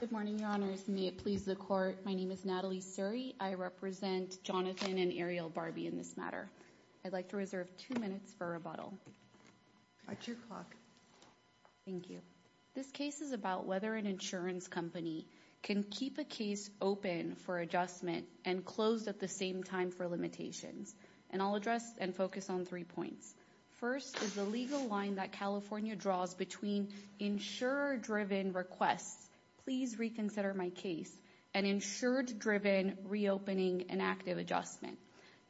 Good morning, Your Honors. May it please the Court, my name is Natalie Surrey. I represent Jonathan and Ariel Barbey in this matter. I'd like to reserve two minutes for rebuttal. At your clock. Thank you. This case is about whether an insurance company can keep a case open for adjustment and closed at the same time for limitations. And I'll address and focus on three points. First is the legal line that California draws between insurer-driven requests, please reconsider my case, and insured-driven reopening and active adjustment.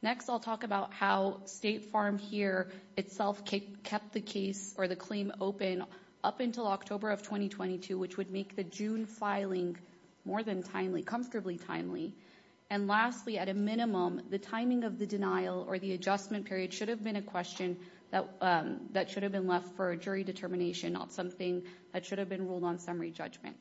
Next I'll talk about how State Farm here itself kept the case or the claim open up until October of 2022, which would make the June filing more than timely, comfortably timely. And lastly, at a minimum, the timing of the denial or the adjustment period should have been a question that should have been left for a jury determination, not something that should have been ruled on summary judgment.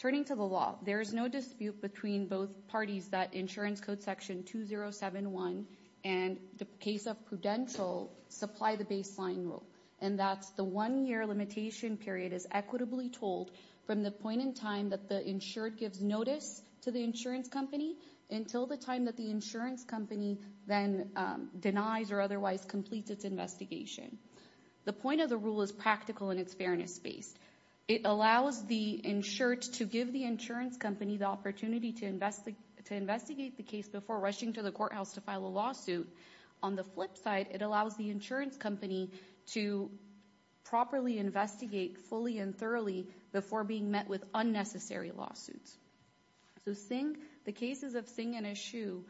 Turning to the law, there is no dispute between both parties that Insurance Code Section 2071 and the case of Prudential supply the baseline rule and that's the one-year limitation period is equitably told from the point in time that the insured gives notice to the insurance company until the time that the insurance company then denies or otherwise completes its investigation. The point of the rule is practical and it's fairness-based. It allows the insured to give the insurance company the opportunity to investigate the case before rushing to the courthouse to file a lawsuit. On the flip side, it allows the insurance company to properly investigate fully and thoroughly before being met with unnecessary lawsuits. So Singh, the cases of Singh and Eshoo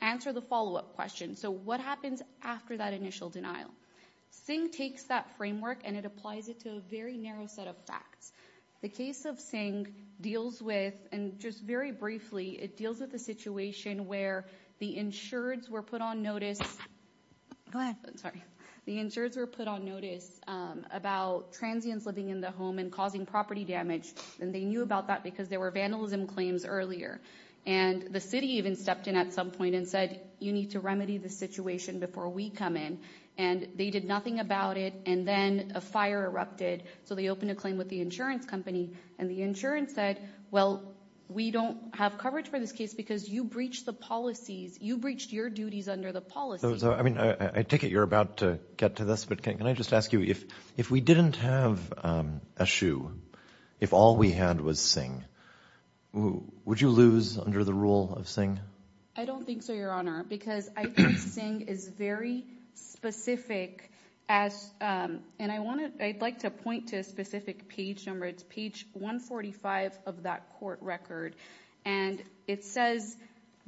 answer the follow-up question. So what happens after that initial denial? Singh takes that framework and it applies it to a very narrow set of facts. The case of Singh deals with, and just very briefly, it deals with the situation where the insureds were put on notice. Go ahead. Sorry. The insureds were put on notice about transients living in the home and causing property damage and they knew about that because there were vandalism claims earlier and the city even stepped in at some point and said you need to remedy the situation before we come in and they did nothing about it and then a fire erupted so they opened a claim with the insurance company and the insurance said, well, we don't have coverage for this case because you breached the policies. You breached your duties under the policies. I take it you're about to get to this, but can I just ask you, if we didn't have Eshoo, if all we had was Singh, would you lose under the rule of Singh? I don't have the specific page number. It's page 145 of that court record and it says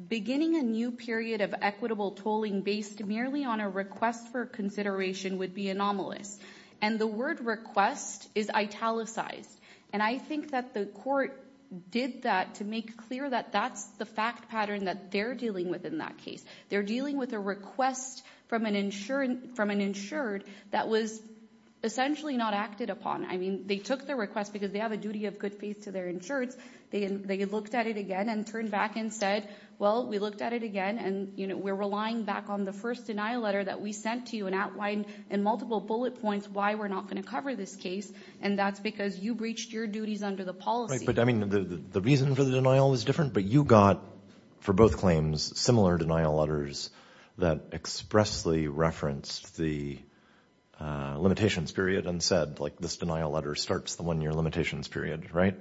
beginning a new period of equitable tolling based merely on a request for consideration would be anomalous and the word request is italicized and I think that the court did that to make clear that that's the fact pattern that they're dealing with in that case. They're dealing with a claim from an insured that was essentially not acted upon. I mean, they took the request because they have a duty of good faith to their insureds. They looked at it again and turned back and said, well, we looked at it again and we're relying back on the first denial letter that we sent to you and outlined in multiple bullet points why we're not going to cover this case and that's because you breached your duties under the policy. But I mean, the reason for the denial was different, but you got, for both claims, similar denial letters that expressly referenced the limitations period and said, like, this denial letter starts the one-year limitations period, right?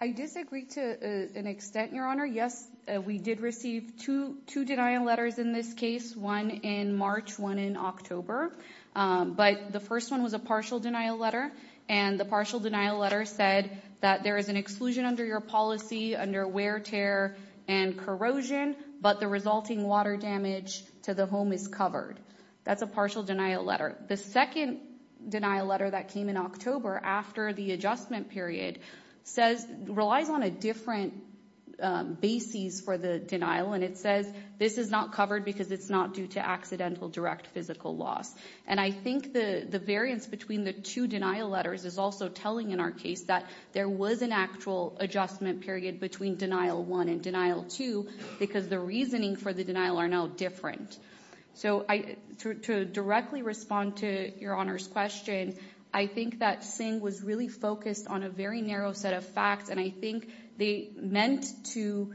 I disagree to an extent, Your Honor. Yes, we did receive two denial letters in this case, one in March, one in October, but the first one was a partial denial letter and the partial denial letter said that there is an exclusion under your policy under wear, tear, and corrosion, but the resulting water damage to the home is covered. That's a partial denial letter. The second denial letter that came in October after the adjustment period relies on a different basis for the denial and it says this is not covered because it's not due to accidental direct physical loss. And I think the variance between the two denial letters is also telling in our case that there was an actual adjustment period between denial one and denial two because the reasoning for the denial are now different. So to directly respond to Your Honor's question, I think that Singh was really focused on a very narrow set of facts and I think they meant to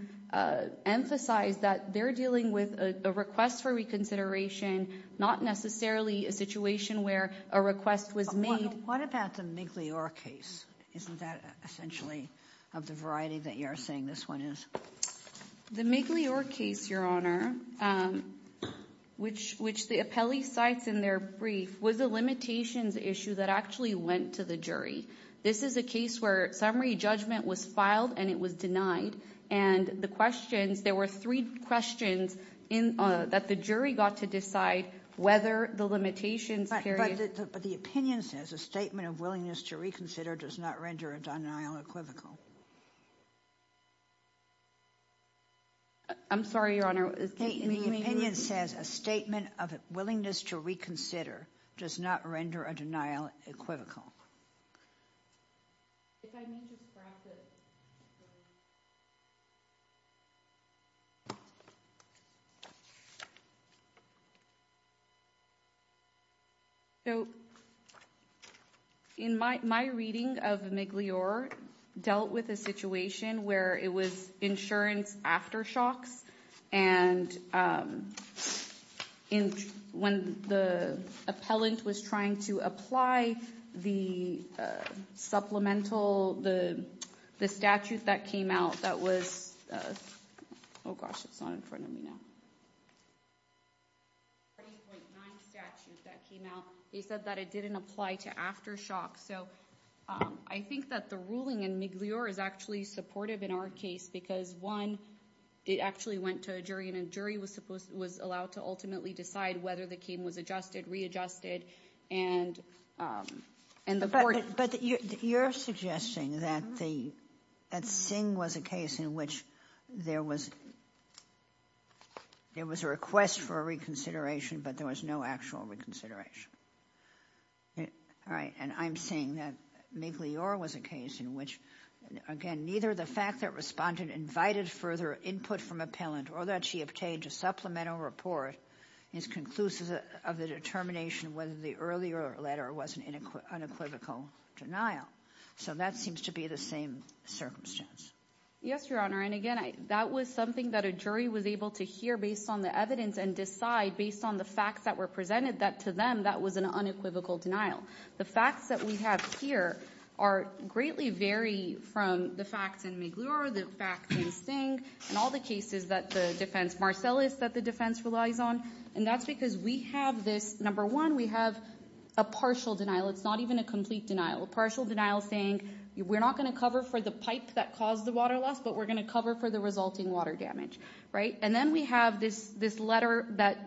emphasize that they're dealing with a request for reconsideration, not necessarily a situation where a request was made. What about the Migliore case? Isn't that essentially of the variety that you're saying this one is? The Migliore case, Your Honor, which the appellee cites in their brief was a limitations issue that actually went to the jury. This is a case where summary judgment was filed and it was denied and the questions, there were three questions that the jury got to decide whether the limitations period. But the opinion says a statement of willingness to reconsider does not render a denial equivocal. I'm sorry, Your Honor. The opinion says a statement of willingness to reconsider does not render a denial equivocal. So in my reading of Migliore dealt with a situation where it was insurance aftershocks and when the appellant was trying to apply the supplemental, the statute that came out that was, oh gosh, it's I think that the ruling in Migliore is actually supportive in our case because one, it actually went to a jury and a jury was allowed to ultimately decide whether the claim was adjusted, readjusted and the court. But you're suggesting that Sing was a case in which there was a request for a reconsideration, but there was no actual reconsideration. All right. And I'm saying that Migliore was a case in which, again, neither the fact that respondent invited further input from appellant or that she obtained a supplemental report is conclusive of the determination whether the earlier letter was an unequivocal denial. So that seems to be the same circumstance. Yes, Your Honor. And again, that was something that a jury was able to hear based on the evidence and decide based on the facts that were presented that to them that was an unequivocal denial. The facts that we have here greatly vary from the facts in Migliore, the facts in Sing and all the cases that the defense, Marcellus, that the defense relies on. And that's because we have this, number one, we have a partial denial. It's not even a complete denial. Partial denial saying we're not going to cover for the pipe that caused the water loss, but we're going to cover for the resulting water damage. Right? And then we have this letter that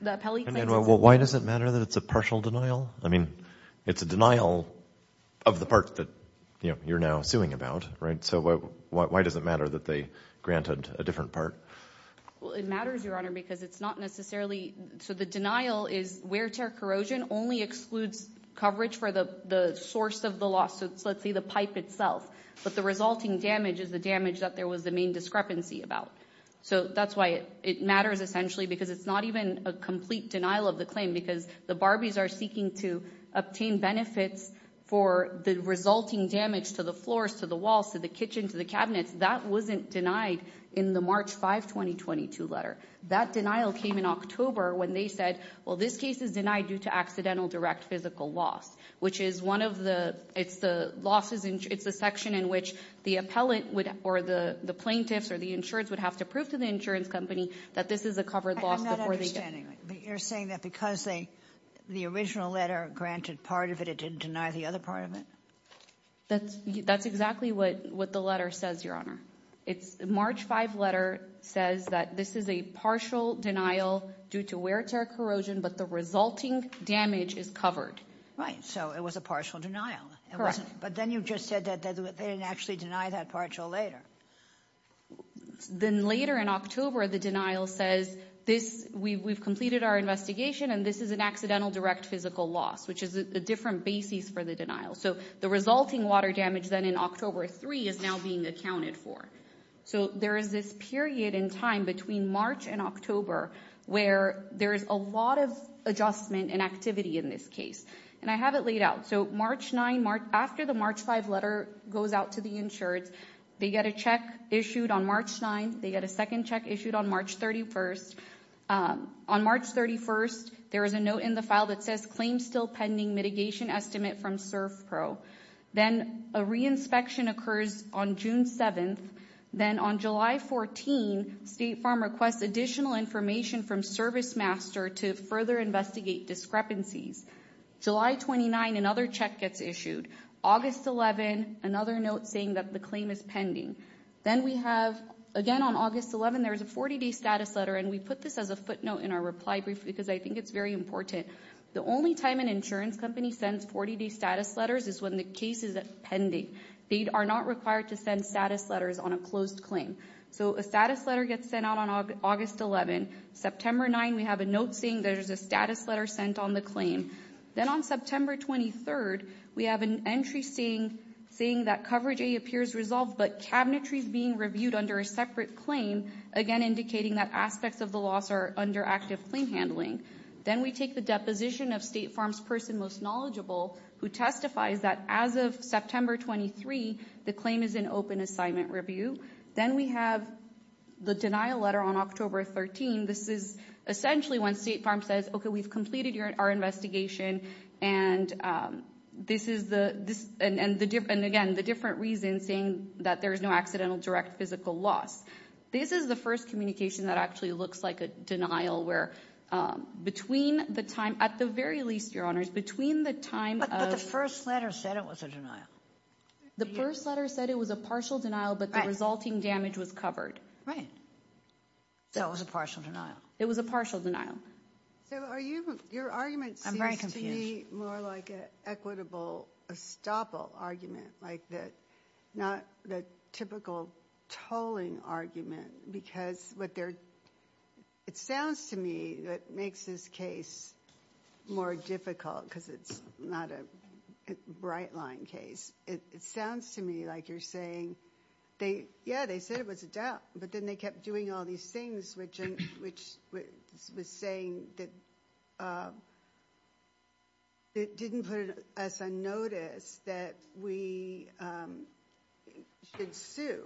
the appellate claims... And why does it matter that it's a partial denial? I mean, it's a denial of the part that you're now suing about, right? So why does it matter that they granted a different part? Well, it matters, Your Honor, because it's not necessarily... So the denial is wear tear corrosion only excludes coverage for the source of the loss. So let's say the pipe itself, but the resulting damage is the damage that there was the main discrepancy about. So that's why it matters essentially, because it's not even a complete denial of the claim, because the Barbies are seeking to obtain benefits for the resulting damage to the floors, to the walls, to the kitchen, to the cabinets. That wasn't denied in the March 5, 2022 letter. That denial came in October when they said, well, this case is denied due to accidental direct physical loss, which is one of the... It's the losses... It's the section in which the appellate would... Or the plaintiffs or the insurance would have to prove to the insurance company that this is a covered loss before they... I'm not understanding. You're saying that because the original letter granted part of it, it didn't deny the other part of it? That's exactly what the letter says, Your Honor. It's... The March 5 letter says that this is a partial denial due to wear, tear, corrosion, but the resulting damage is covered. Right. So it was a partial denial. Correct. But then you just said that they didn't actually deny that partial later. Then later in October, the denial says this... We've completed our investigation and this is an accidental direct physical loss, which is a different basis for the denial. So the resulting water damage then in October 3 is now being accounted for. So there is this period in time between March and October where there is a lot of adjustment and activity in this case. And I have it laid out. So March 9... After the March 5 letter goes out to the insurance, they get a check issued on March 9. They get a second check issued on March 31. On March 31, there is a note in the file that says claims still pending mitigation estimate from SurfPro. Then a re-inspection occurs on June 7. Then on July 14, State Farm requests additional information from ServiceMaster to further investigate discrepancies. July 29, another check gets issued. August 11, another note saying that the claim is pending. Then we have... Again on August 11, there is a 40-day status letter and we put this as a footnote in our reply brief because I think it's very important. The only time an insurance provides 40-day status letters is when the case is pending. They are not required to send status letters on a closed claim. So a status letter gets sent out on August 11. September 9, we have a note saying there is a status letter sent on the claim. Then on September 23, we have an entry saying that coverage A appears resolved but cabinetry is being reviewed under a separate claim, again indicating that aspects of the loss are under active claim handling. Then we take the deposition of State Farm's person most knowledgeable who testifies that as of September 23, the claim is in open assignment review. Then we have the denial letter on October 13. This is essentially when State Farm says, okay, we've completed our investigation and this is the... And again, the different reason saying that there is no accidental direct physical loss. This is the first communication that actually looks like a denial where between the time... At the very least, Your Honors, between the time of... But the first letter said it was a denial. The first letter said it was a partial denial, but the resulting damage was covered. Right. So it was a partial denial. It was a partial denial. So are you... Your argument seems to be more like an equitable estoppel argument, like not the typical tolling argument because what they're... It sounds to me that makes this case more difficult because it's not a bright line case. It sounds to me like you're saying, yeah, they said it was a doubt, but then they kept doing all these things, which was saying that it didn't put us on notice that we should sue.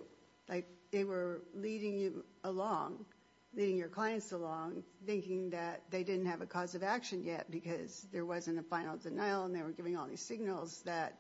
They were leading you along, leading your clients along, thinking that they didn't have a cause of action yet because there wasn't a final denial and they were giving all these signals that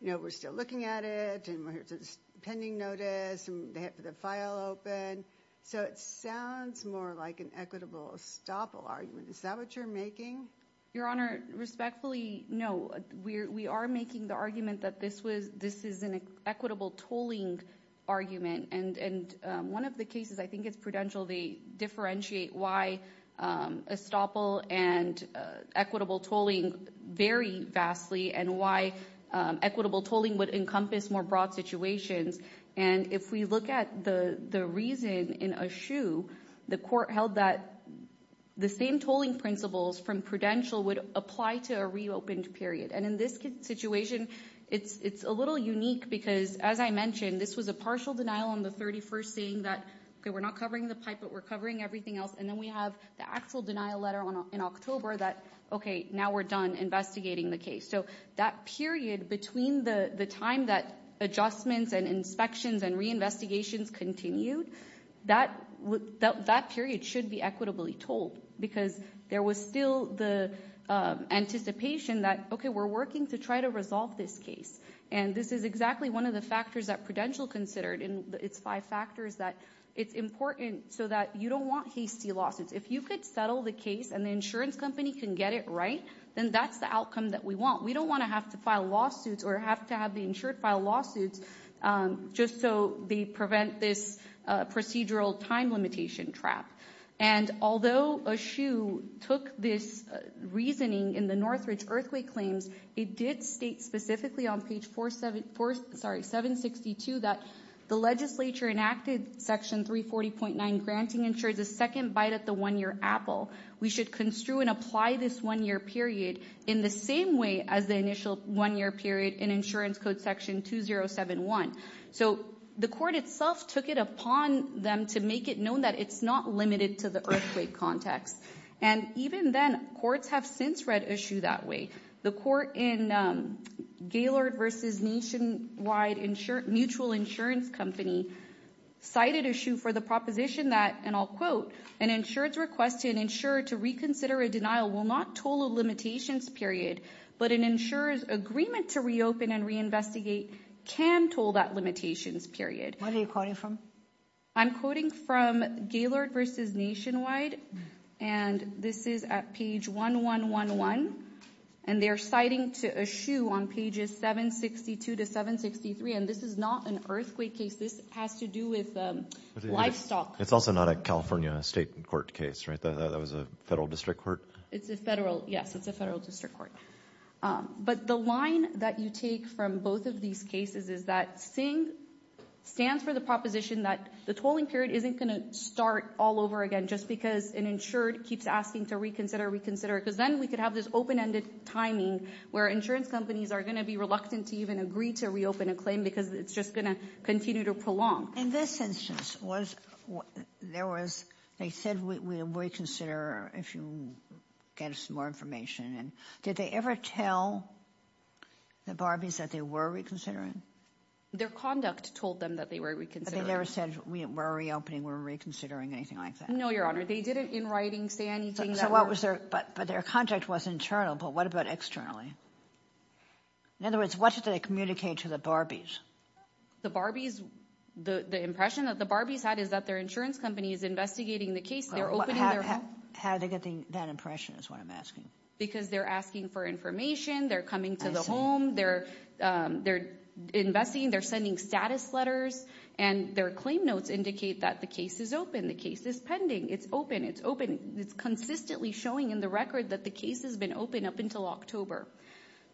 we're still looking at it and we're here to... Pending notice and they have the file open. So it sounds more like an equitable estoppel argument. Is that what you're making? Your Honor, respectfully, no. We are making the argument that this is an equitable tolling argument. And one of the cases, I think it's Prudential, they differentiate why estoppel and equitable tolling vary vastly and why equitable tolling would encompass more broad situations. And if we look at the reason in Aschew, the court held that the same tolling principles from Prudential would apply to a reopened period. And in this situation, it's little unique because, as I mentioned, this was a partial denial on the 31st saying that, okay, we're not covering the pipe, but we're covering everything else. And then we have the actual denial letter in October that, okay, now we're done investigating the case. So that period between the time that adjustments and inspections and reinvestigations continued, that period should be equitably tolled because there was still the anticipation that, okay, we're working to try to resolve this case. And this is exactly one of the factors that Prudential considered in its five factors, that it's important so that you don't want hasty lawsuits. If you could settle the case and the insurance company can get it right, then that's the outcome that we want. We don't want to have to file lawsuits or have to have the insured file lawsuits just so they prevent this procedural time limitation trap. And although Eshoo took this reasoning in the Northridge Earthquake Claims, it did state specifically on page 762 that the legislature enacted Section 340.9, granting insurers a second bite at the one-year apple. We should construe and apply this one-year period in the same way as the initial one-year period in Insurance Code Section 2071. So the court itself took it upon them to make it known that it's not limited to the earthquake context. And even then, courts have since read Eshoo that way. The court in Gaylord v. Nationwide Mutual Insurance Company cited Eshoo for the proposition that, and I'll quote, an insured's request to an insurer to reconsider a denial will not toll a limitations period, but an insurer's agreement to reopen and reinvestigate can toll that limitations period. What are you quoting from? I'm quoting from Gaylord v. Nationwide and this is at page 1111. And they're citing to Eshoo on pages 762 to 763. And this is not an earthquake case. This has to do with livestock. It's also not a California state court case, right? That was a federal district court? It's a federal, yes, it's a federal district court. But the line that you take from both of these cases is that SING stands for the proposition that the tolling period isn't going to start all over again just because an insured keeps asking to reconsider, reconsider, because then we could have this open-ended timing where insurance companies are going to be reluctant to even agree to reopen a claim because it's just going to continue to prolong. In this instance, there was, they said, we'll reconsider if you get us more information. And did they ever tell the Barbies that they were reconsidering? Their conduct told them that they were reconsidering. But they never said we're reopening, we're reconsidering, anything like that? No, Your Honor. They didn't in writing say anything. So what was their, but their contact was internal, but what about externally? In other words, what did they communicate to the Barbies? The Barbies, the impression that the Barbies had is that their insurance company is investigating the case, they're opening their home. How are they getting that impression is what I'm asking. Because they're asking for information, they're coming to the home, they're investing, they're sending status letters, and their claim notes indicate that the case is open, the case is pending, it's open, it's open. It's consistently showing in the record that the case has been open up until October.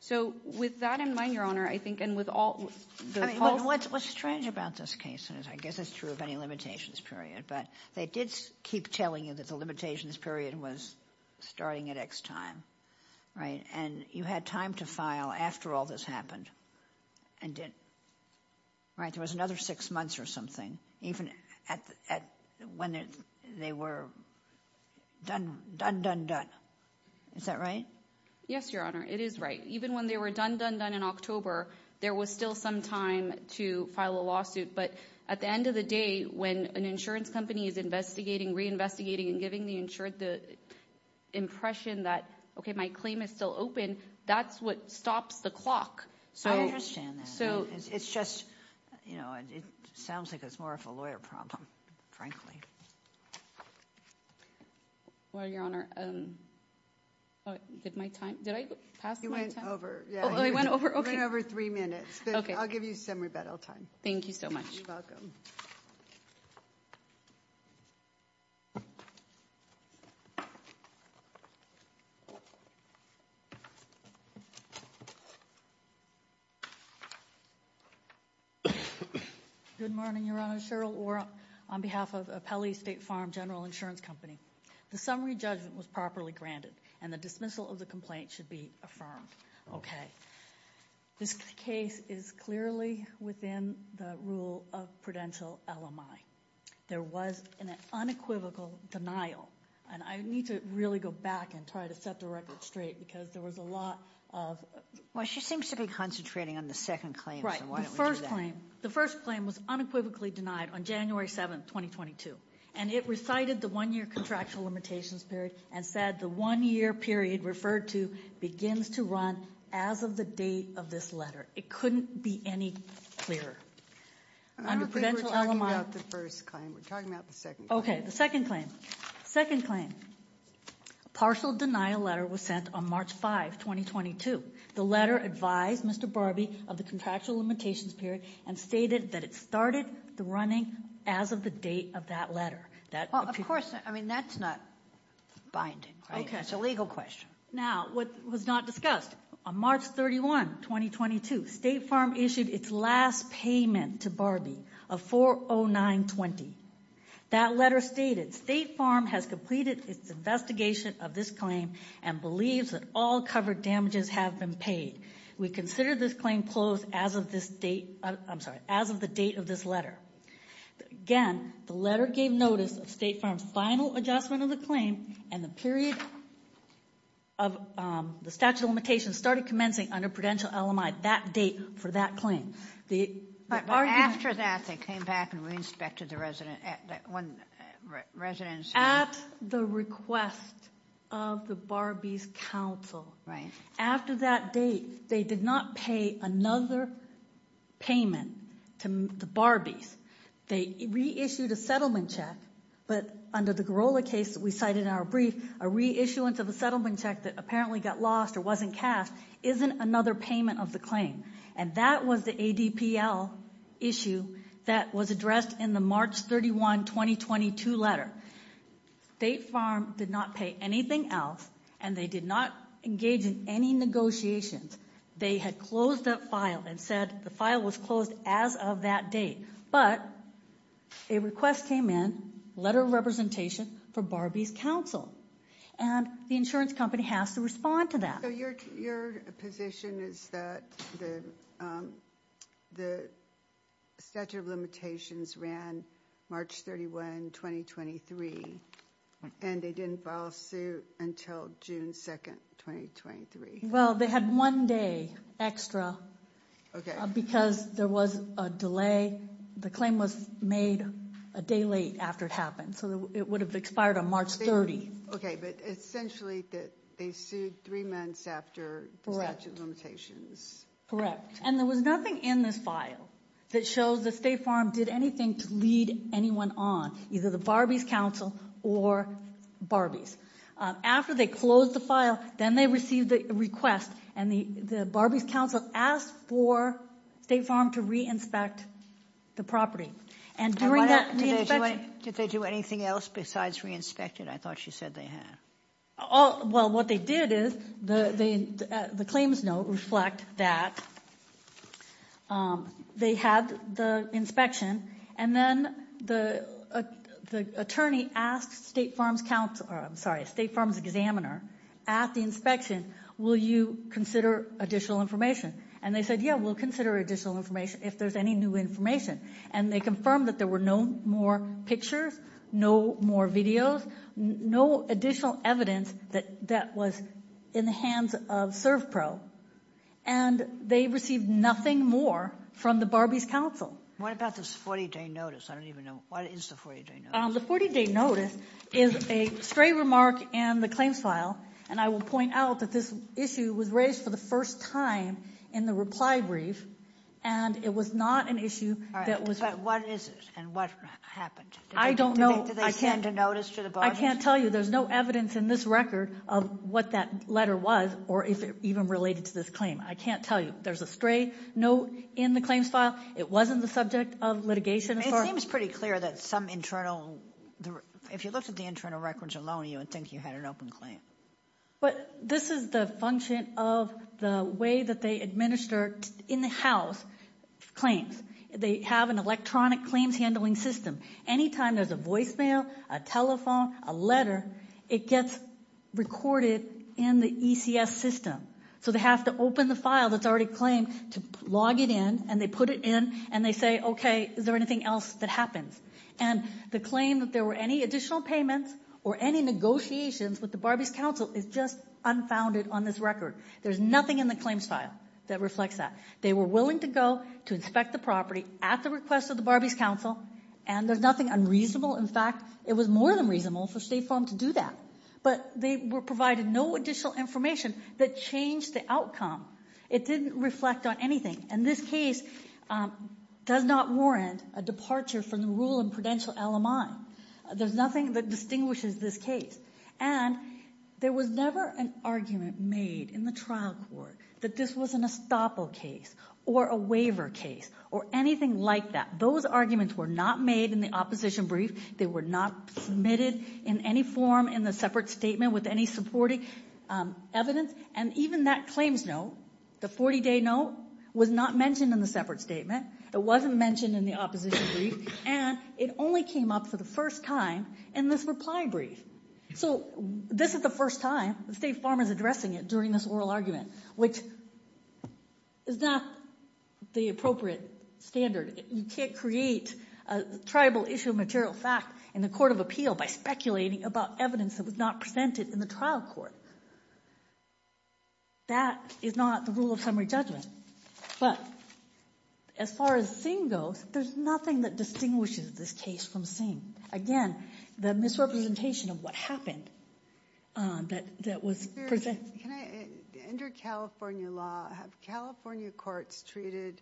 So with that in mind, Your Honor, I think, and with all the false... What's strange about this case, and I guess it's true of any limitations period, but they did keep telling you that the limitations period was starting at X time, right? And you had time to file after all this happened and didn't, right? There was another six months or something, even at when they were done, done, done. Is that right? Yes, Your Honor, it is right. Even when they were done, done, done in October, there was still some time to file a lawsuit. But at the end of the day, when an insurance company is investigating, reinvestigating, and giving the insured the impression that, okay, my claim is still open, that's what stops the clock. I understand that. It's just, it sounds like it's more of a lawyer problem, frankly. Well, Your Honor, did my time, did I pass my time? You went over. Oh, I went over? Okay. You went over three minutes, but I'll give you some rebuttal time. Thank you so much. You're welcome. Good morning, Your Honor. Cheryl Orr on behalf of Appellee State Farm General Insurance Company. The summary judgment was properly granted and the dismissal of the complaint should be affirmed. Okay. This case is clearly within the rule of prudential LMI. There was an unequivocal denial, and I need to really go back and try to set the record straight because there was a lot of... Well, she seems to be concentrating on the second claim, so why don't we do that? The first claim was unequivocally denied on January 7, 2022, and it recited the one-year contractual limitations period and said the one-year period referred to begins to run as of the date of this letter. It couldn't be any clearer. I don't think we're talking about the first claim. We're talking about the second claim. Okay, the second claim. Second claim. Partial denial letter was sent on March 5, 2022. The letter advised Mr. Barbee of the contractual limitations period and stated that it started the running as of the date of that letter. That, of course, I mean, that's not binding. Okay, it's a legal question. Now, what was not discussed. On March 31, 2022, State Farm issued its last payment to Barbee of $409.20. That letter stated, State Farm has completed its investigation of this claim and believes that all covered damages have been paid. We consider this claim closed as of this date... I'm sorry, as of the date of this letter. Again, the letter gave notice of State Farm's final adjustment of the claim and the period of the statute of limitations started commencing under Prudential-LMI, that date for that claim. After that, they came back and re-inspected the residence. At the request of the Barbee's counsel. Right. After that date, they did not pay another payment to the Barbee's. They reissued a settlement check, but under the Garola case that we cited in our brief, a reissuance of a settlement check that apparently got lost or wasn't cashed isn't another payment of the claim. And that was the ADPL issue that was addressed in the March 31, 2022 letter. State Farm did not pay anything else and they did not engage in any negotiations. They had closed that file and said the file was closed as of that date. But a request came in, a letter of representation for Barbee's counsel. And the insurance company has to respond to that. So your position is that the statute of limitations ran March 31, 2023 and they didn't file a suit until June 2, 2023? Well, they had one day extra because there was a delay. The claim was made a day late after it happened. So it would have expired on March 30. Okay, but essentially they sued three months after the statute of limitations. Correct. And there was nothing in this file that shows the State Farm did anything to lead anyone on, either the Barbee's counsel or Barbee's. After they closed the file, then they received the request and the Barbee's counsel asked for State Farm to re-inspect the property. Did they do anything else besides re-inspect it? I thought you said they had. Well, what they did is the claims note reflect that they had the inspection. And then the attorney asked State Farm's examiner at the inspection, will you consider additional information? And they said, yeah, we'll consider additional information if there's any new information. And they confirmed that there were no more pictures, no more videos, no additional evidence that was in the hands of ServPro. And they received nothing more from the Barbee's counsel. What about this 40-day notice? I don't even know. What is the 40-day notice? The 40-day notice is a stray remark in the claims file. And I will point out that this issue was raised for the first time in the reply brief. And it was not an issue that was. But what is it? And what happened? I don't know. Do they send a notice to the Barbee's? I can't tell you. There's no evidence in this record of what that letter was or if it even related to this claim. I can't tell you. There's a stray note in the claims file. It wasn't the subject of litigation. It seems pretty clear that some internal. If you looked at the internal records alone, you would think you had an open claim. But this is the function of the way that they administer in-house claims. They have an electronic claims handling system. Anytime there's a voicemail, a telephone, a letter, it gets recorded in the ECS system. So they have to open the file that's already claimed to log it in. And they put it in. And they say, okay, is there anything else that happens? And the claim that there were any additional payments or any negotiations with the Barbee's Council is just unfounded on this record. There's nothing in the claims file that reflects that. They were willing to go to inspect the property at the request of the Barbee's Council. And there's nothing unreasonable. In fact, it was more than reasonable for State Farm to do that. But they were provided no additional information that changed the outcome. It didn't reflect on anything. And this case does not warrant a departure from the rule in Prudential LMI. There's nothing that distinguishes this case. And there was never an argument made in the trial court that this was an estoppel case or a waiver case or anything like that. Those arguments were not made in the opposition brief. They were not submitted in any form in the separate statement with any supporting evidence. And even that claims note, the 40-day note, was not mentioned in the separate statement. It wasn't mentioned in the opposition brief. And it only came up for the first time in this reply brief. So this is the first time State Farm is addressing it during this oral argument, which is not the appropriate standard. You can't create a tribal issue of material fact in the Court of Appeal by speculating about evidence that was not presented in the trial court. That is not the rule of summary judgment. But as far as Singh goes, there's nothing that distinguishes this case from Singh. Again, the misrepresentation of what happened that was presented. Under California law, have California courts treated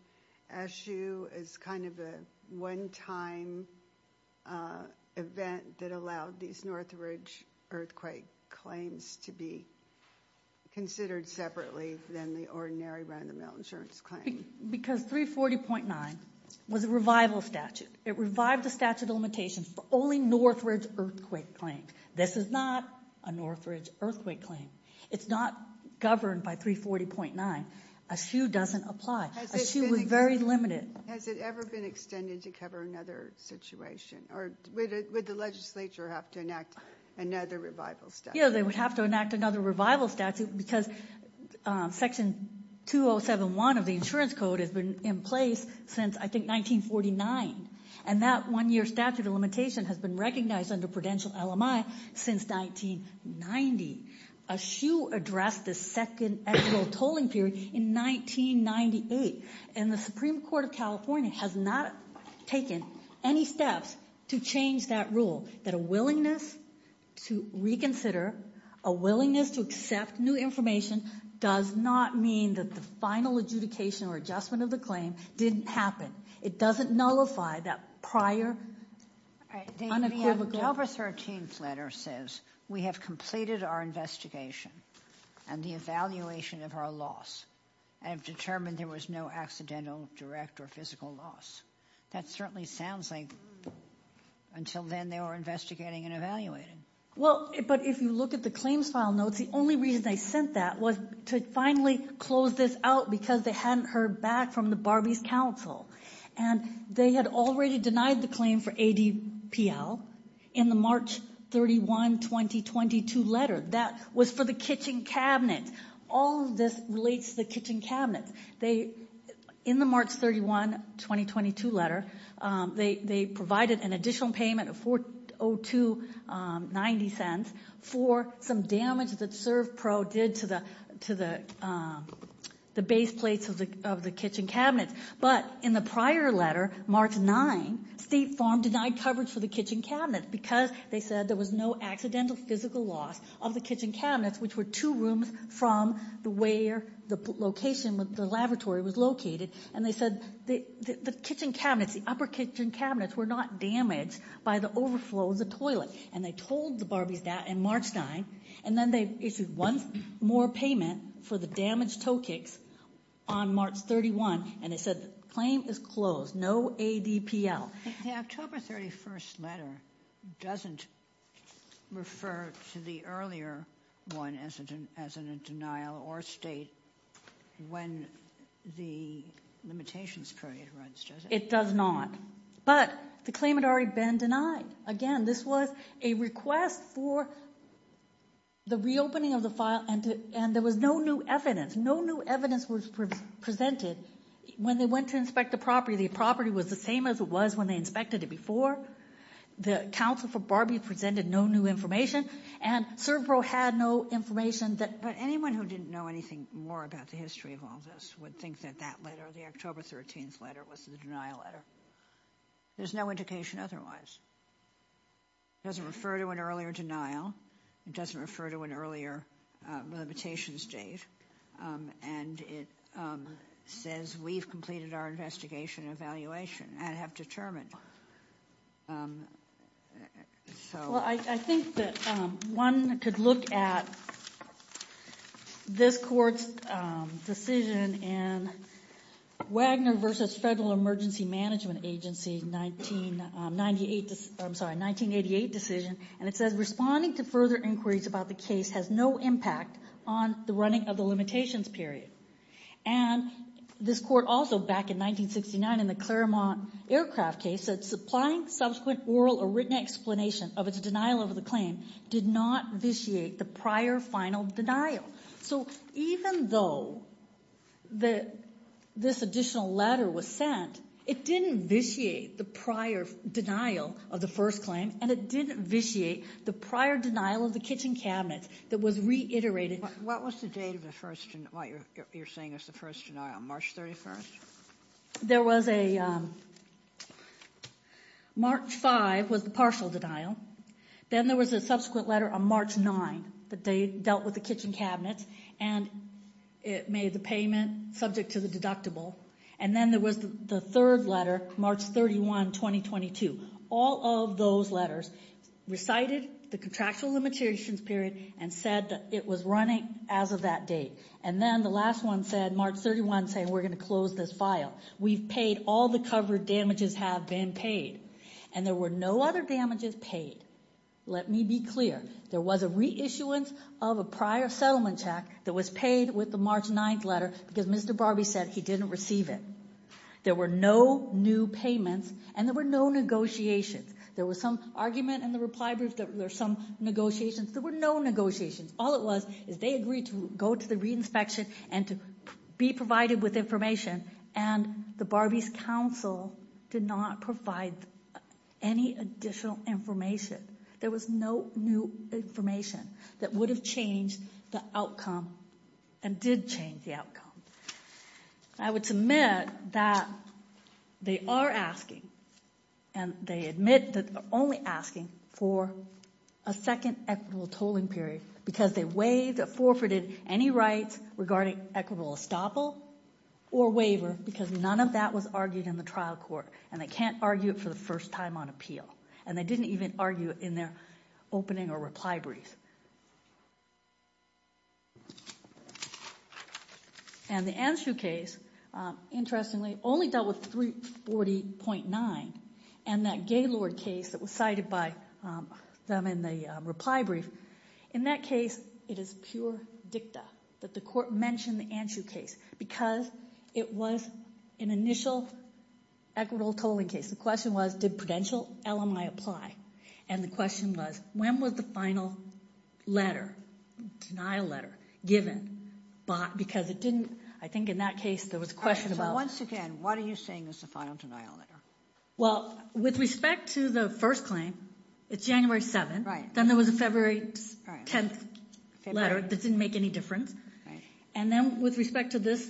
ASU as kind of a one-time event that allowed these Northridge earthquake claims to be considered separately than the ordinary round-the-mill insurance claim? Because 340.9 was a revival statute. It revived the statute of limitations for only Northridge earthquake claims. This is not a Northridge earthquake claim. It's not governed by 340.9. ASU doesn't apply. ASU was very limited. Has it ever been extended to cover another situation? Or would the legislature have to enact another revival statute? Yeah, they would have to enact another revival statute because section 2071 of the insurance code has been in place since, I think, 1949. And that one-year statute of limitation has been recognized under prudential LMI since 1990. ASU addressed the second annual tolling period in 1998. And the Supreme Court of California has not taken any steps to change that rule. That a willingness to reconsider, a willingness to accept new information does not mean that the final adjudication or adjustment of the claim didn't happen. It doesn't nullify that prior unequivocal— October 13th letter says, we have completed our investigation and the evaluation of our loss and have determined there was no accidental, direct, or physical loss. That certainly sounds like until then they were investigating and evaluating. Well, but if you look at the claims file notes, the only reason they sent that was to finally close this out because they hadn't heard back from the Barbies Council. And they had already denied the claim for ADPL in the March 31, 2022 letter. That was for the kitchen cabinets. All of this relates to the kitchen cabinets. In the March 31, 2022 letter, they provided an additional payment of $0.0290 for some damage that ServPro did to the base plates of the kitchen cabinets. But in the prior letter, March 9, State Farm denied coverage for the kitchen cabinets because they said there was no accidental physical loss of the kitchen cabinets, which were two rooms from where the location of the laboratory was located. And they said the kitchen cabinets, the upper kitchen cabinets were not damaged by the overflow of the toilet. And they told the Barbies that in March 9. And then they issued one more payment for the damaged toe kicks on March 31. And they said the claim is closed. No ADPL. The October 31 letter doesn't refer to the earlier one as a denial or state when the limitations period runs, does it? It does not. But the claim had already been denied. Again, this was a request for the reopening of the file. And there was no new evidence. No new evidence was presented when they went to inspect the property. The property was the same as it was when they inspected it before. The counsel for Barbie presented no new information. And ServPro had no information. But anyone who didn't know anything more about the history of all this would think that that letter, the October 13 letter, was the denial letter. There's no indication otherwise. It doesn't refer to an earlier denial. It doesn't refer to an earlier limitation state. And it says we've completed our investigation and evaluation and have determined. Well, I think that one could look at this court's decision in Wagner v. Federal Emergency Management Agency 1988 decision. And it says responding to further inquiries about the case has no impact on the running of the limitations period. And this court also, back in 1969 in the Claremont aircraft case, said supplying subsequent oral or written explanation of its denial of the claim did not vitiate the prior final denial. So even though this additional letter was sent, it didn't vitiate the prior denial of the first claim. And it didn't vitiate the prior denial of the kitchen cabinet that was reiterated. What was the date of the first denial, what you're saying was the first denial, March 31st? There was a, March 5 was the partial denial. Then there was a subsequent letter on March 9 that dealt with the kitchen cabinet. And it made the payment subject to the deductible. And then there was the third letter, March 31, 2022. All of those letters recited the contractual limitations period and said that it was running as of that date. And then the last one said, March 31, saying we're going to close this file. We've paid all the covered damages have been paid. And there were no other damages paid. Let me be clear. There was a reissuance of a prior settlement check that was paid with the March 9th letter because Mr. Barbee said he didn't receive it. There were no new payments and there were no negotiations. There was some argument in the reply brief that there's some negotiations. There were no negotiations. All it was is they agreed to go to the reinspection and to be provided with information. And the Barbee's counsel did not provide any additional information. There was no new information that would have changed the outcome and did change the outcome. I would submit that they are asking and they admit that they're only asking for a second equitable tolling period because they waived or forfeited any rights regarding equitable estoppel or waiver because none of that was argued in the trial court and they can't argue it for the first time on appeal. And they didn't even argue it in their opening or reply brief. And the Anshu case, interestingly, only dealt with 340.9 and that Gaylord case that was cited by them in the reply brief. In that case, it is pure dicta that the court mentioned the Anshu case because it was an initial equitable tolling case. The question was, did prudential LMI apply? And the question was, when was the final decision made? Letter, denial letter, given. Because it didn't, I think in that case, there was a question about- So once again, what are you saying is the final denial letter? Well, with respect to the first claim, it's January 7th. Then there was a February 10th letter that didn't make any difference. And then with respect to this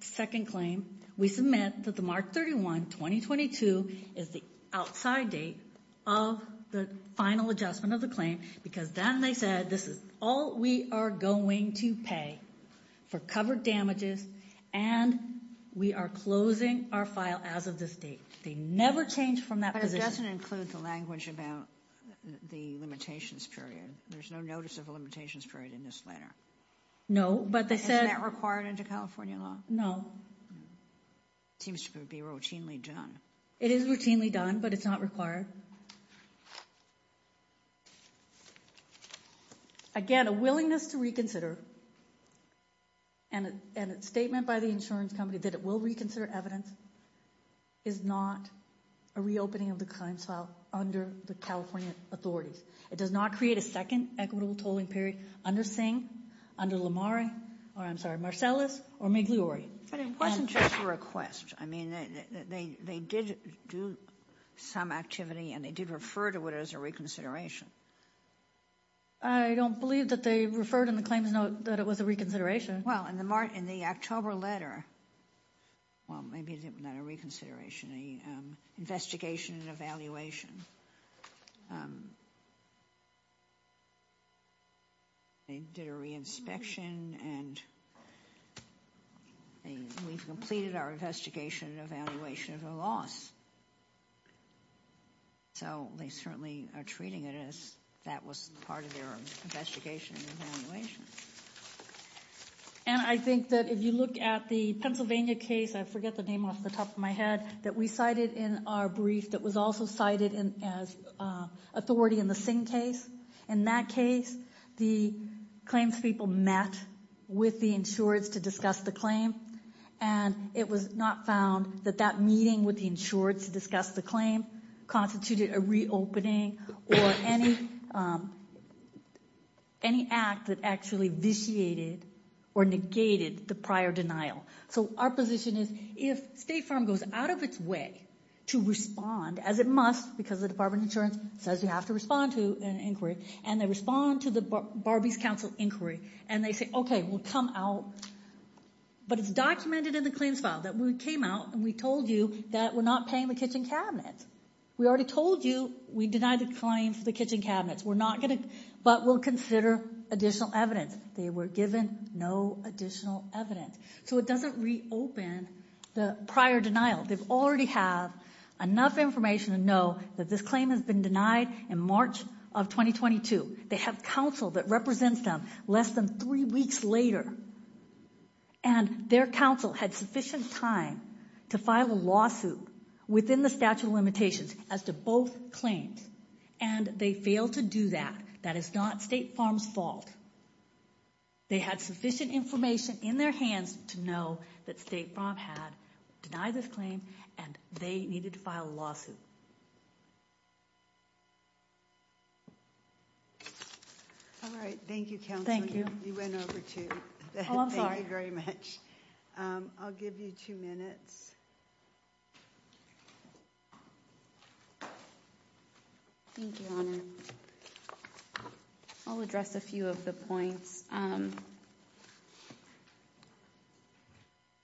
second claim, we submit that the March 31, 2022 is the outside date of the final adjustment of the claim because then they said, this is all we are going to pay for covered damages and we are closing our file as of this date. They never changed from that position. But it doesn't include the language about the limitations period. There's no notice of a limitations period in this letter. No, but they said- Isn't that required under California law? No. It seems to be routinely done. It is routinely done, but it's not required. Again, a willingness to reconsider and a statement by the insurance company that it will reconsider evidence is not a reopening of the claims file under the California authorities. It does not create a second equitable tolling period under Singh, under Lamar, or I'm sorry, Marcellus or Migliore. But it wasn't just a request. I mean, they did do some activity and they did refer to it as a reconsideration. I don't believe that they referred in the claims note that it was a reconsideration. Well, in the October letter, well, maybe not a reconsideration, investigation and evaluation. They did a re-inspection and we've completed our investigation and evaluation of a loss. So, they certainly are treating it as that was part of their investigation and evaluation. And I think that if you look at the Pennsylvania case, I forget the name off the top of my head, that we cited in our brief that was also cited as authority in the Singh case. In that case, the claims people met with the insurers to discuss the claim and it was not found that that meeting with the insurers to discuss the claim constituted a reopening or any act that actually vitiated or negated the prior denial. So, our position is if State Farm goes out of its way to respond as it must because the Department of Insurance says you have to respond to an inquiry and they respond to the Barbies Council inquiry and they say, okay, we'll come out. But it's documented in the claims file that we came out and we told you that we're not paying the kitchen cabinets. We already told you we denied the claim for the kitchen cabinets. We're not going to, but we'll consider additional evidence. They were given no additional evidence. So, it doesn't reopen the prior denial. They've already have enough information to know that this claim has been denied in March of 2022. They have counsel that represents them less than three weeks later and their counsel had sufficient time to file a lawsuit within the statute of limitations as to both claims and they failed to do that. That is not State Farm's fault. They had sufficient information in their hands to know that State Farm had denied this claim and they needed to file a lawsuit. All right. Thank you, counsel. Thank you. You went over too. Oh, I'm sorry. Thank you very much. I'll give you two minutes. Thank you, Honor. I'll address a few of the points.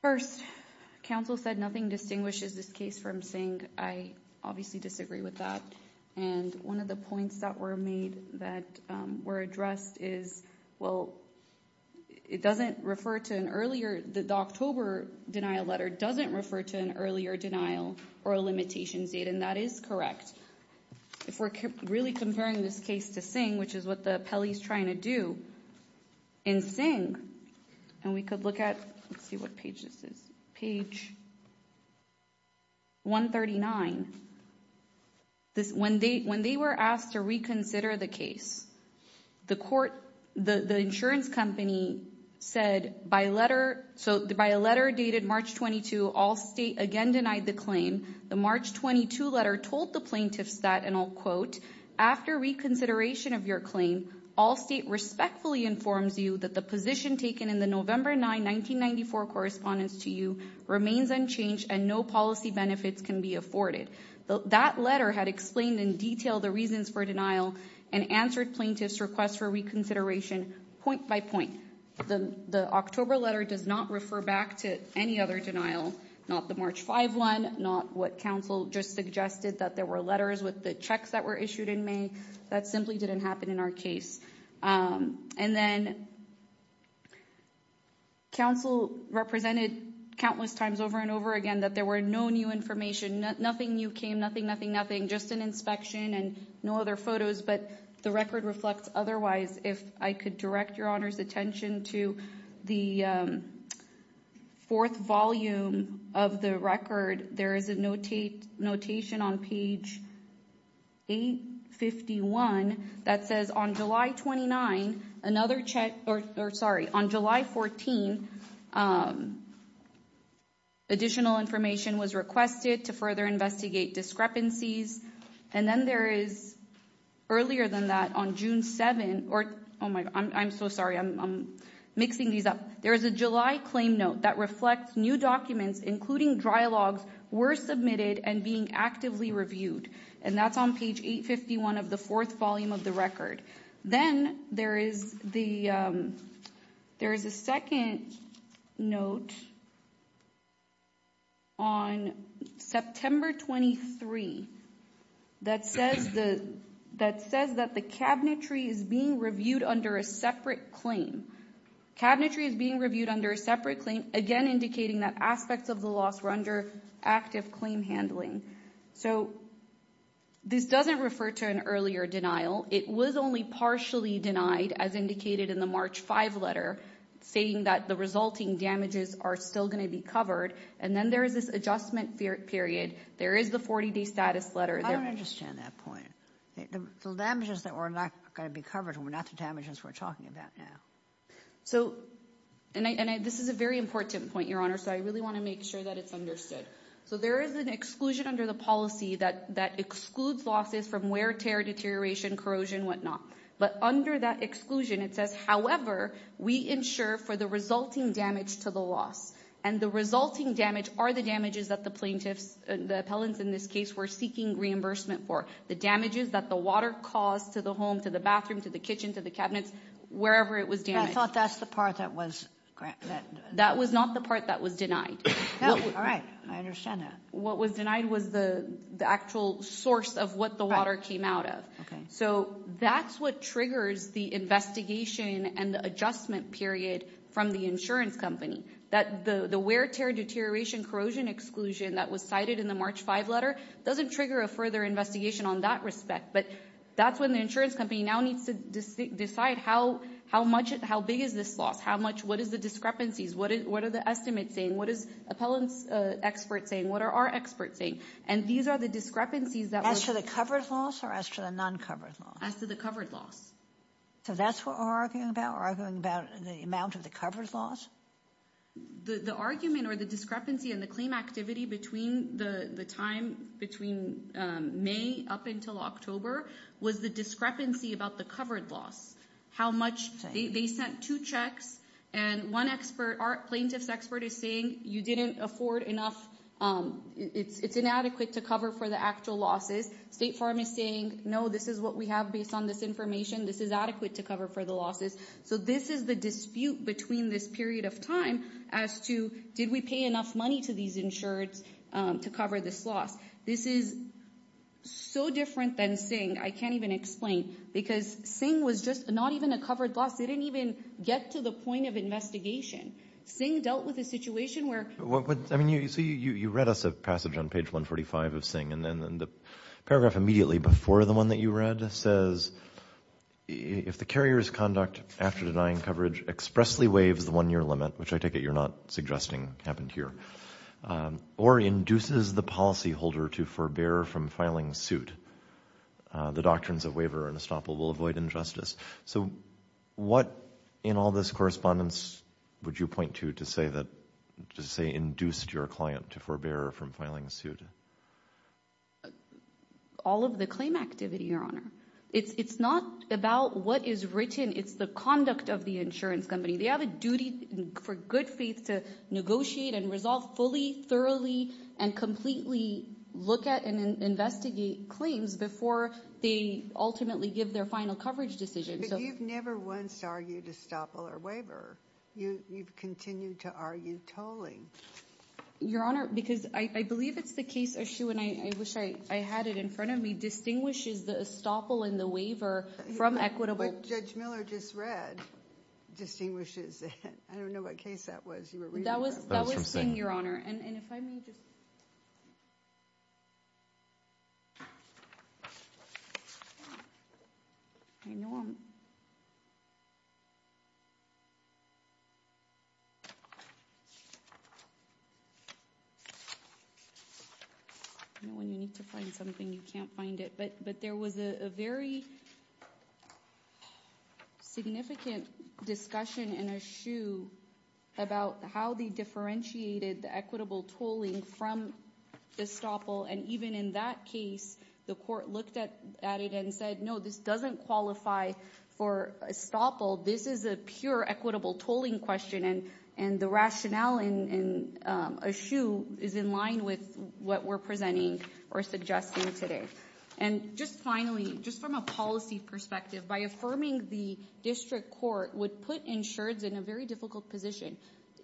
First, counsel said nothing distinguishes this case from Singh. I obviously disagree with that. And one of the points that were made that were addressed is, well, the October denial letter doesn't refer to an earlier denial or a limitations date. And that is correct. If we're really comparing this case to Singh, which is what the appellee is trying to do, in Singh, and we could look at, let's see what page this is, page 139. When they were asked to reconsider the case, the court, the insurance company said by letter, so by a letter dated March 22, all state again denied the claim. The March 22 letter told the plaintiffs that, and I'll quote, after reconsideration of your claim, all state respectfully informs you that the position taken in the November 9, 1994 correspondence to you remains unchanged and no policy benefits can be afforded. That letter had explained in detail the reasons for denial and answered plaintiffs' requests for reconsideration point by point. The October letter does not refer back to any other denial, not the March 5 one, not what counsel just suggested that there were letters with the checks that were issued in May. That simply didn't happen in our case. And then counsel represented countless times over and over again that there were no new information, nothing new came, nothing, nothing, nothing, just an inspection and no other photos, but the record reflects otherwise. If I could direct your honor's attention to the fourth volume of the record, there is a notation on page 851 that says on July 29, another check, or sorry, on July 14, additional information was requested to further investigate discrepancies. And then there is earlier than that on June 7, or, oh my, I'm so sorry, I'm mixing these up. There is a July claim note that reflects new documents, including dry logs, were submitted and being actively reviewed. And that's on page 851 of the fourth volume of the record. Then there is the, there is a second note on September 23 that says the, that says that the cabinetry is being reviewed under a separate claim. Cabinetry is being reviewed under a separate claim, again indicating that aspects of the loss were under active claim handling. So this doesn't refer to an earlier denial. It was only partially denied, as indicated in the March 5 letter, saying that the resulting damages are still going to be covered. And then there is this adjustment period. There is the 40-day status letter. I don't understand that point. The damages that were not going to be covered were not the damages we're talking about now. So, and this is a very important point, your honor, so I really want to make sure that it's understood. So there is an exclusion under the policy that, that excludes losses from wear, tear, deterioration, corrosion, whatnot. But under that exclusion, it says, however, we insure for the resulting damage to the loss. And the resulting damage are the damages that the plaintiffs, the appellants in this case, were seeking reimbursement for. The damages that the water caused to the home, to the bathroom, to the kitchen, to the cabinets, wherever it was damaged. I thought that's the part that was granted. That was not the part that was denied. All right, I understand that. What was denied was the actual source of what the water came out of. So that's what triggers the investigation and the adjustment period from the insurance company. That the wear, tear, deterioration, corrosion exclusion that was cited in the March 5 letter doesn't trigger a further investigation on that respect. But that's when the insurance company now needs to decide how big is this loss? How much, what is the discrepancies? What are the estimates saying? What is appellant's expert saying? What are our experts saying? And these are the discrepancies that were- As to the covered loss or as to the non-covered loss? As to the covered loss. So that's what we're arguing about? Arguing about the amount of the covered loss? The argument or the discrepancy in the claim activity between the time between May up until October was the discrepancy about the covered loss. How much, they sent two checks and one expert, plaintiff's expert is saying you didn't afford enough, it's inadequate to cover for the actual losses. State Farm is saying, no, this is what we have based on this information. This is adequate to cover for the losses. So this is the dispute between this period of time as to did we pay enough money to these insureds to cover this loss? This is so different than Singh. I can't even explain because Singh was just not even a covered loss. They didn't even get to the point of investigation. Singh dealt with a situation where... I mean, you read us a passage on page 145 of Singh and then the paragraph immediately before the one that you read says, if the carrier's conduct after denying coverage expressly waives the one-year limit, which I take it you're not suggesting happened here, or induces the policyholder to forbear from filing suit, the doctrines of waiver and estoppel will avoid injustice. So what, in all this correspondence, would you point to to say induced your client to forbear from filing suit? All of the claim activity, Your Honor. It's not about what is written. It's the conduct of the insurance company. They have a duty for good faith to negotiate and resolve fully, thoroughly, and completely look at and investigate claims before they ultimately give their final coverage decision. But you've never once argued estoppel or waiver. You've continued to argue tolling. Your Honor, because I believe it's the case issue, and I wish I had it in front of me, distinguishes the estoppel and the waiver from equitable... What Judge Miller just read distinguishes it. I don't know what case that was you were reading. That was Singh, Your Honor. And if I may just... You know, when you need to find something, you can't find it. But there was a very significant discussion in Eshoo about how they differentiated the equitable tolling from estoppel. And even in that case, the court looked at it and said, no, this doesn't qualify for estoppel. This is a pure equitable tolling question. And the rationale in Eshoo is in line with what we're presenting or suggesting today. And just finally, just from a policy perspective, by affirming the district court would put insureds in a very difficult position.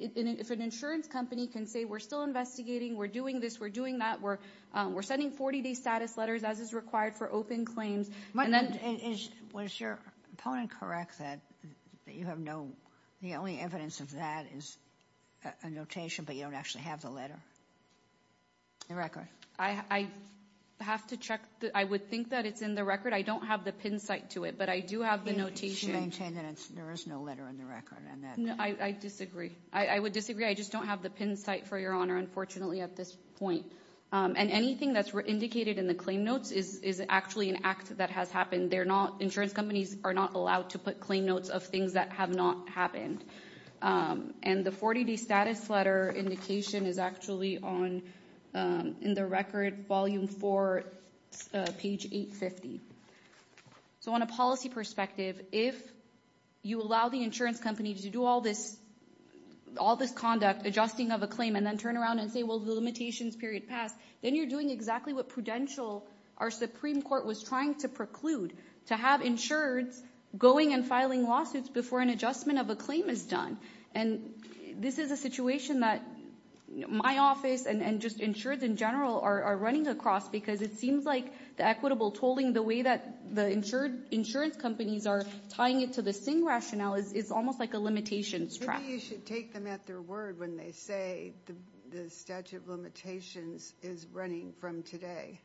If an insurance company can say we're still investigating, we're doing this, we're doing that, we're sending 40-day status letters as is required for open claims, and then... Was your opponent correct that you have no... The only evidence of that is a notation, but you don't actually have the letter, the record? I have to check. I would think that it's in the record. I don't have the pin site to it. I do have the notation. You maintain that there is no letter in the record on that. I disagree. I would disagree. I just don't have the pin site, for your honor, unfortunately, at this point. And anything that's indicated in the claim notes is actually an act that has happened. Insurance companies are not allowed to put claim notes of things that have not happened. And the 40-day status letter indication is actually in the record, volume four, page 850. So on a policy perspective, if you allow the insurance company to do all this conduct, adjusting of a claim, and then turn around and say, well, the limitations period passed, then you're doing exactly what Prudential, our Supreme Court was trying to preclude, to have insureds going and filing lawsuits before an adjustment of a claim is done. And this is a situation that my office and just insureds in general are running across because it seems like the equitable tolling, the way that the insurance companies are tying it to the SING rationale is almost like a limitations track. Maybe you should take them at their word when they say the statute of limitations is running from today.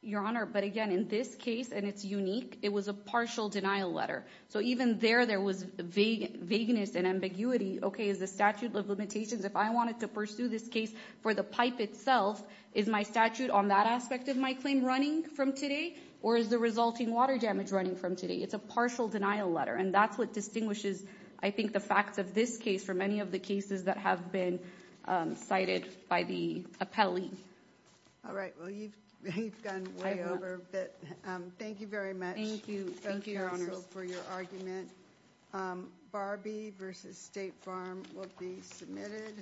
Your honor, but again, in this case, and it's unique, it was a partial denial letter. So even there, there was vagueness and ambiguity. Okay, is the statute of limitations, if I wanted to pursue this case for the pipe itself, is my statute on that aspect of my claim running from today? Or is the resulting water damage running from today? It's a partial denial letter. And that's what distinguishes, I think, the facts of this case from any of the cases that have been cited by the appellee. All right, well, you've gone way over a bit. Thank you very much. Thank you. Thank you, your honor, for your argument. Barbie versus State Farm will be submitted.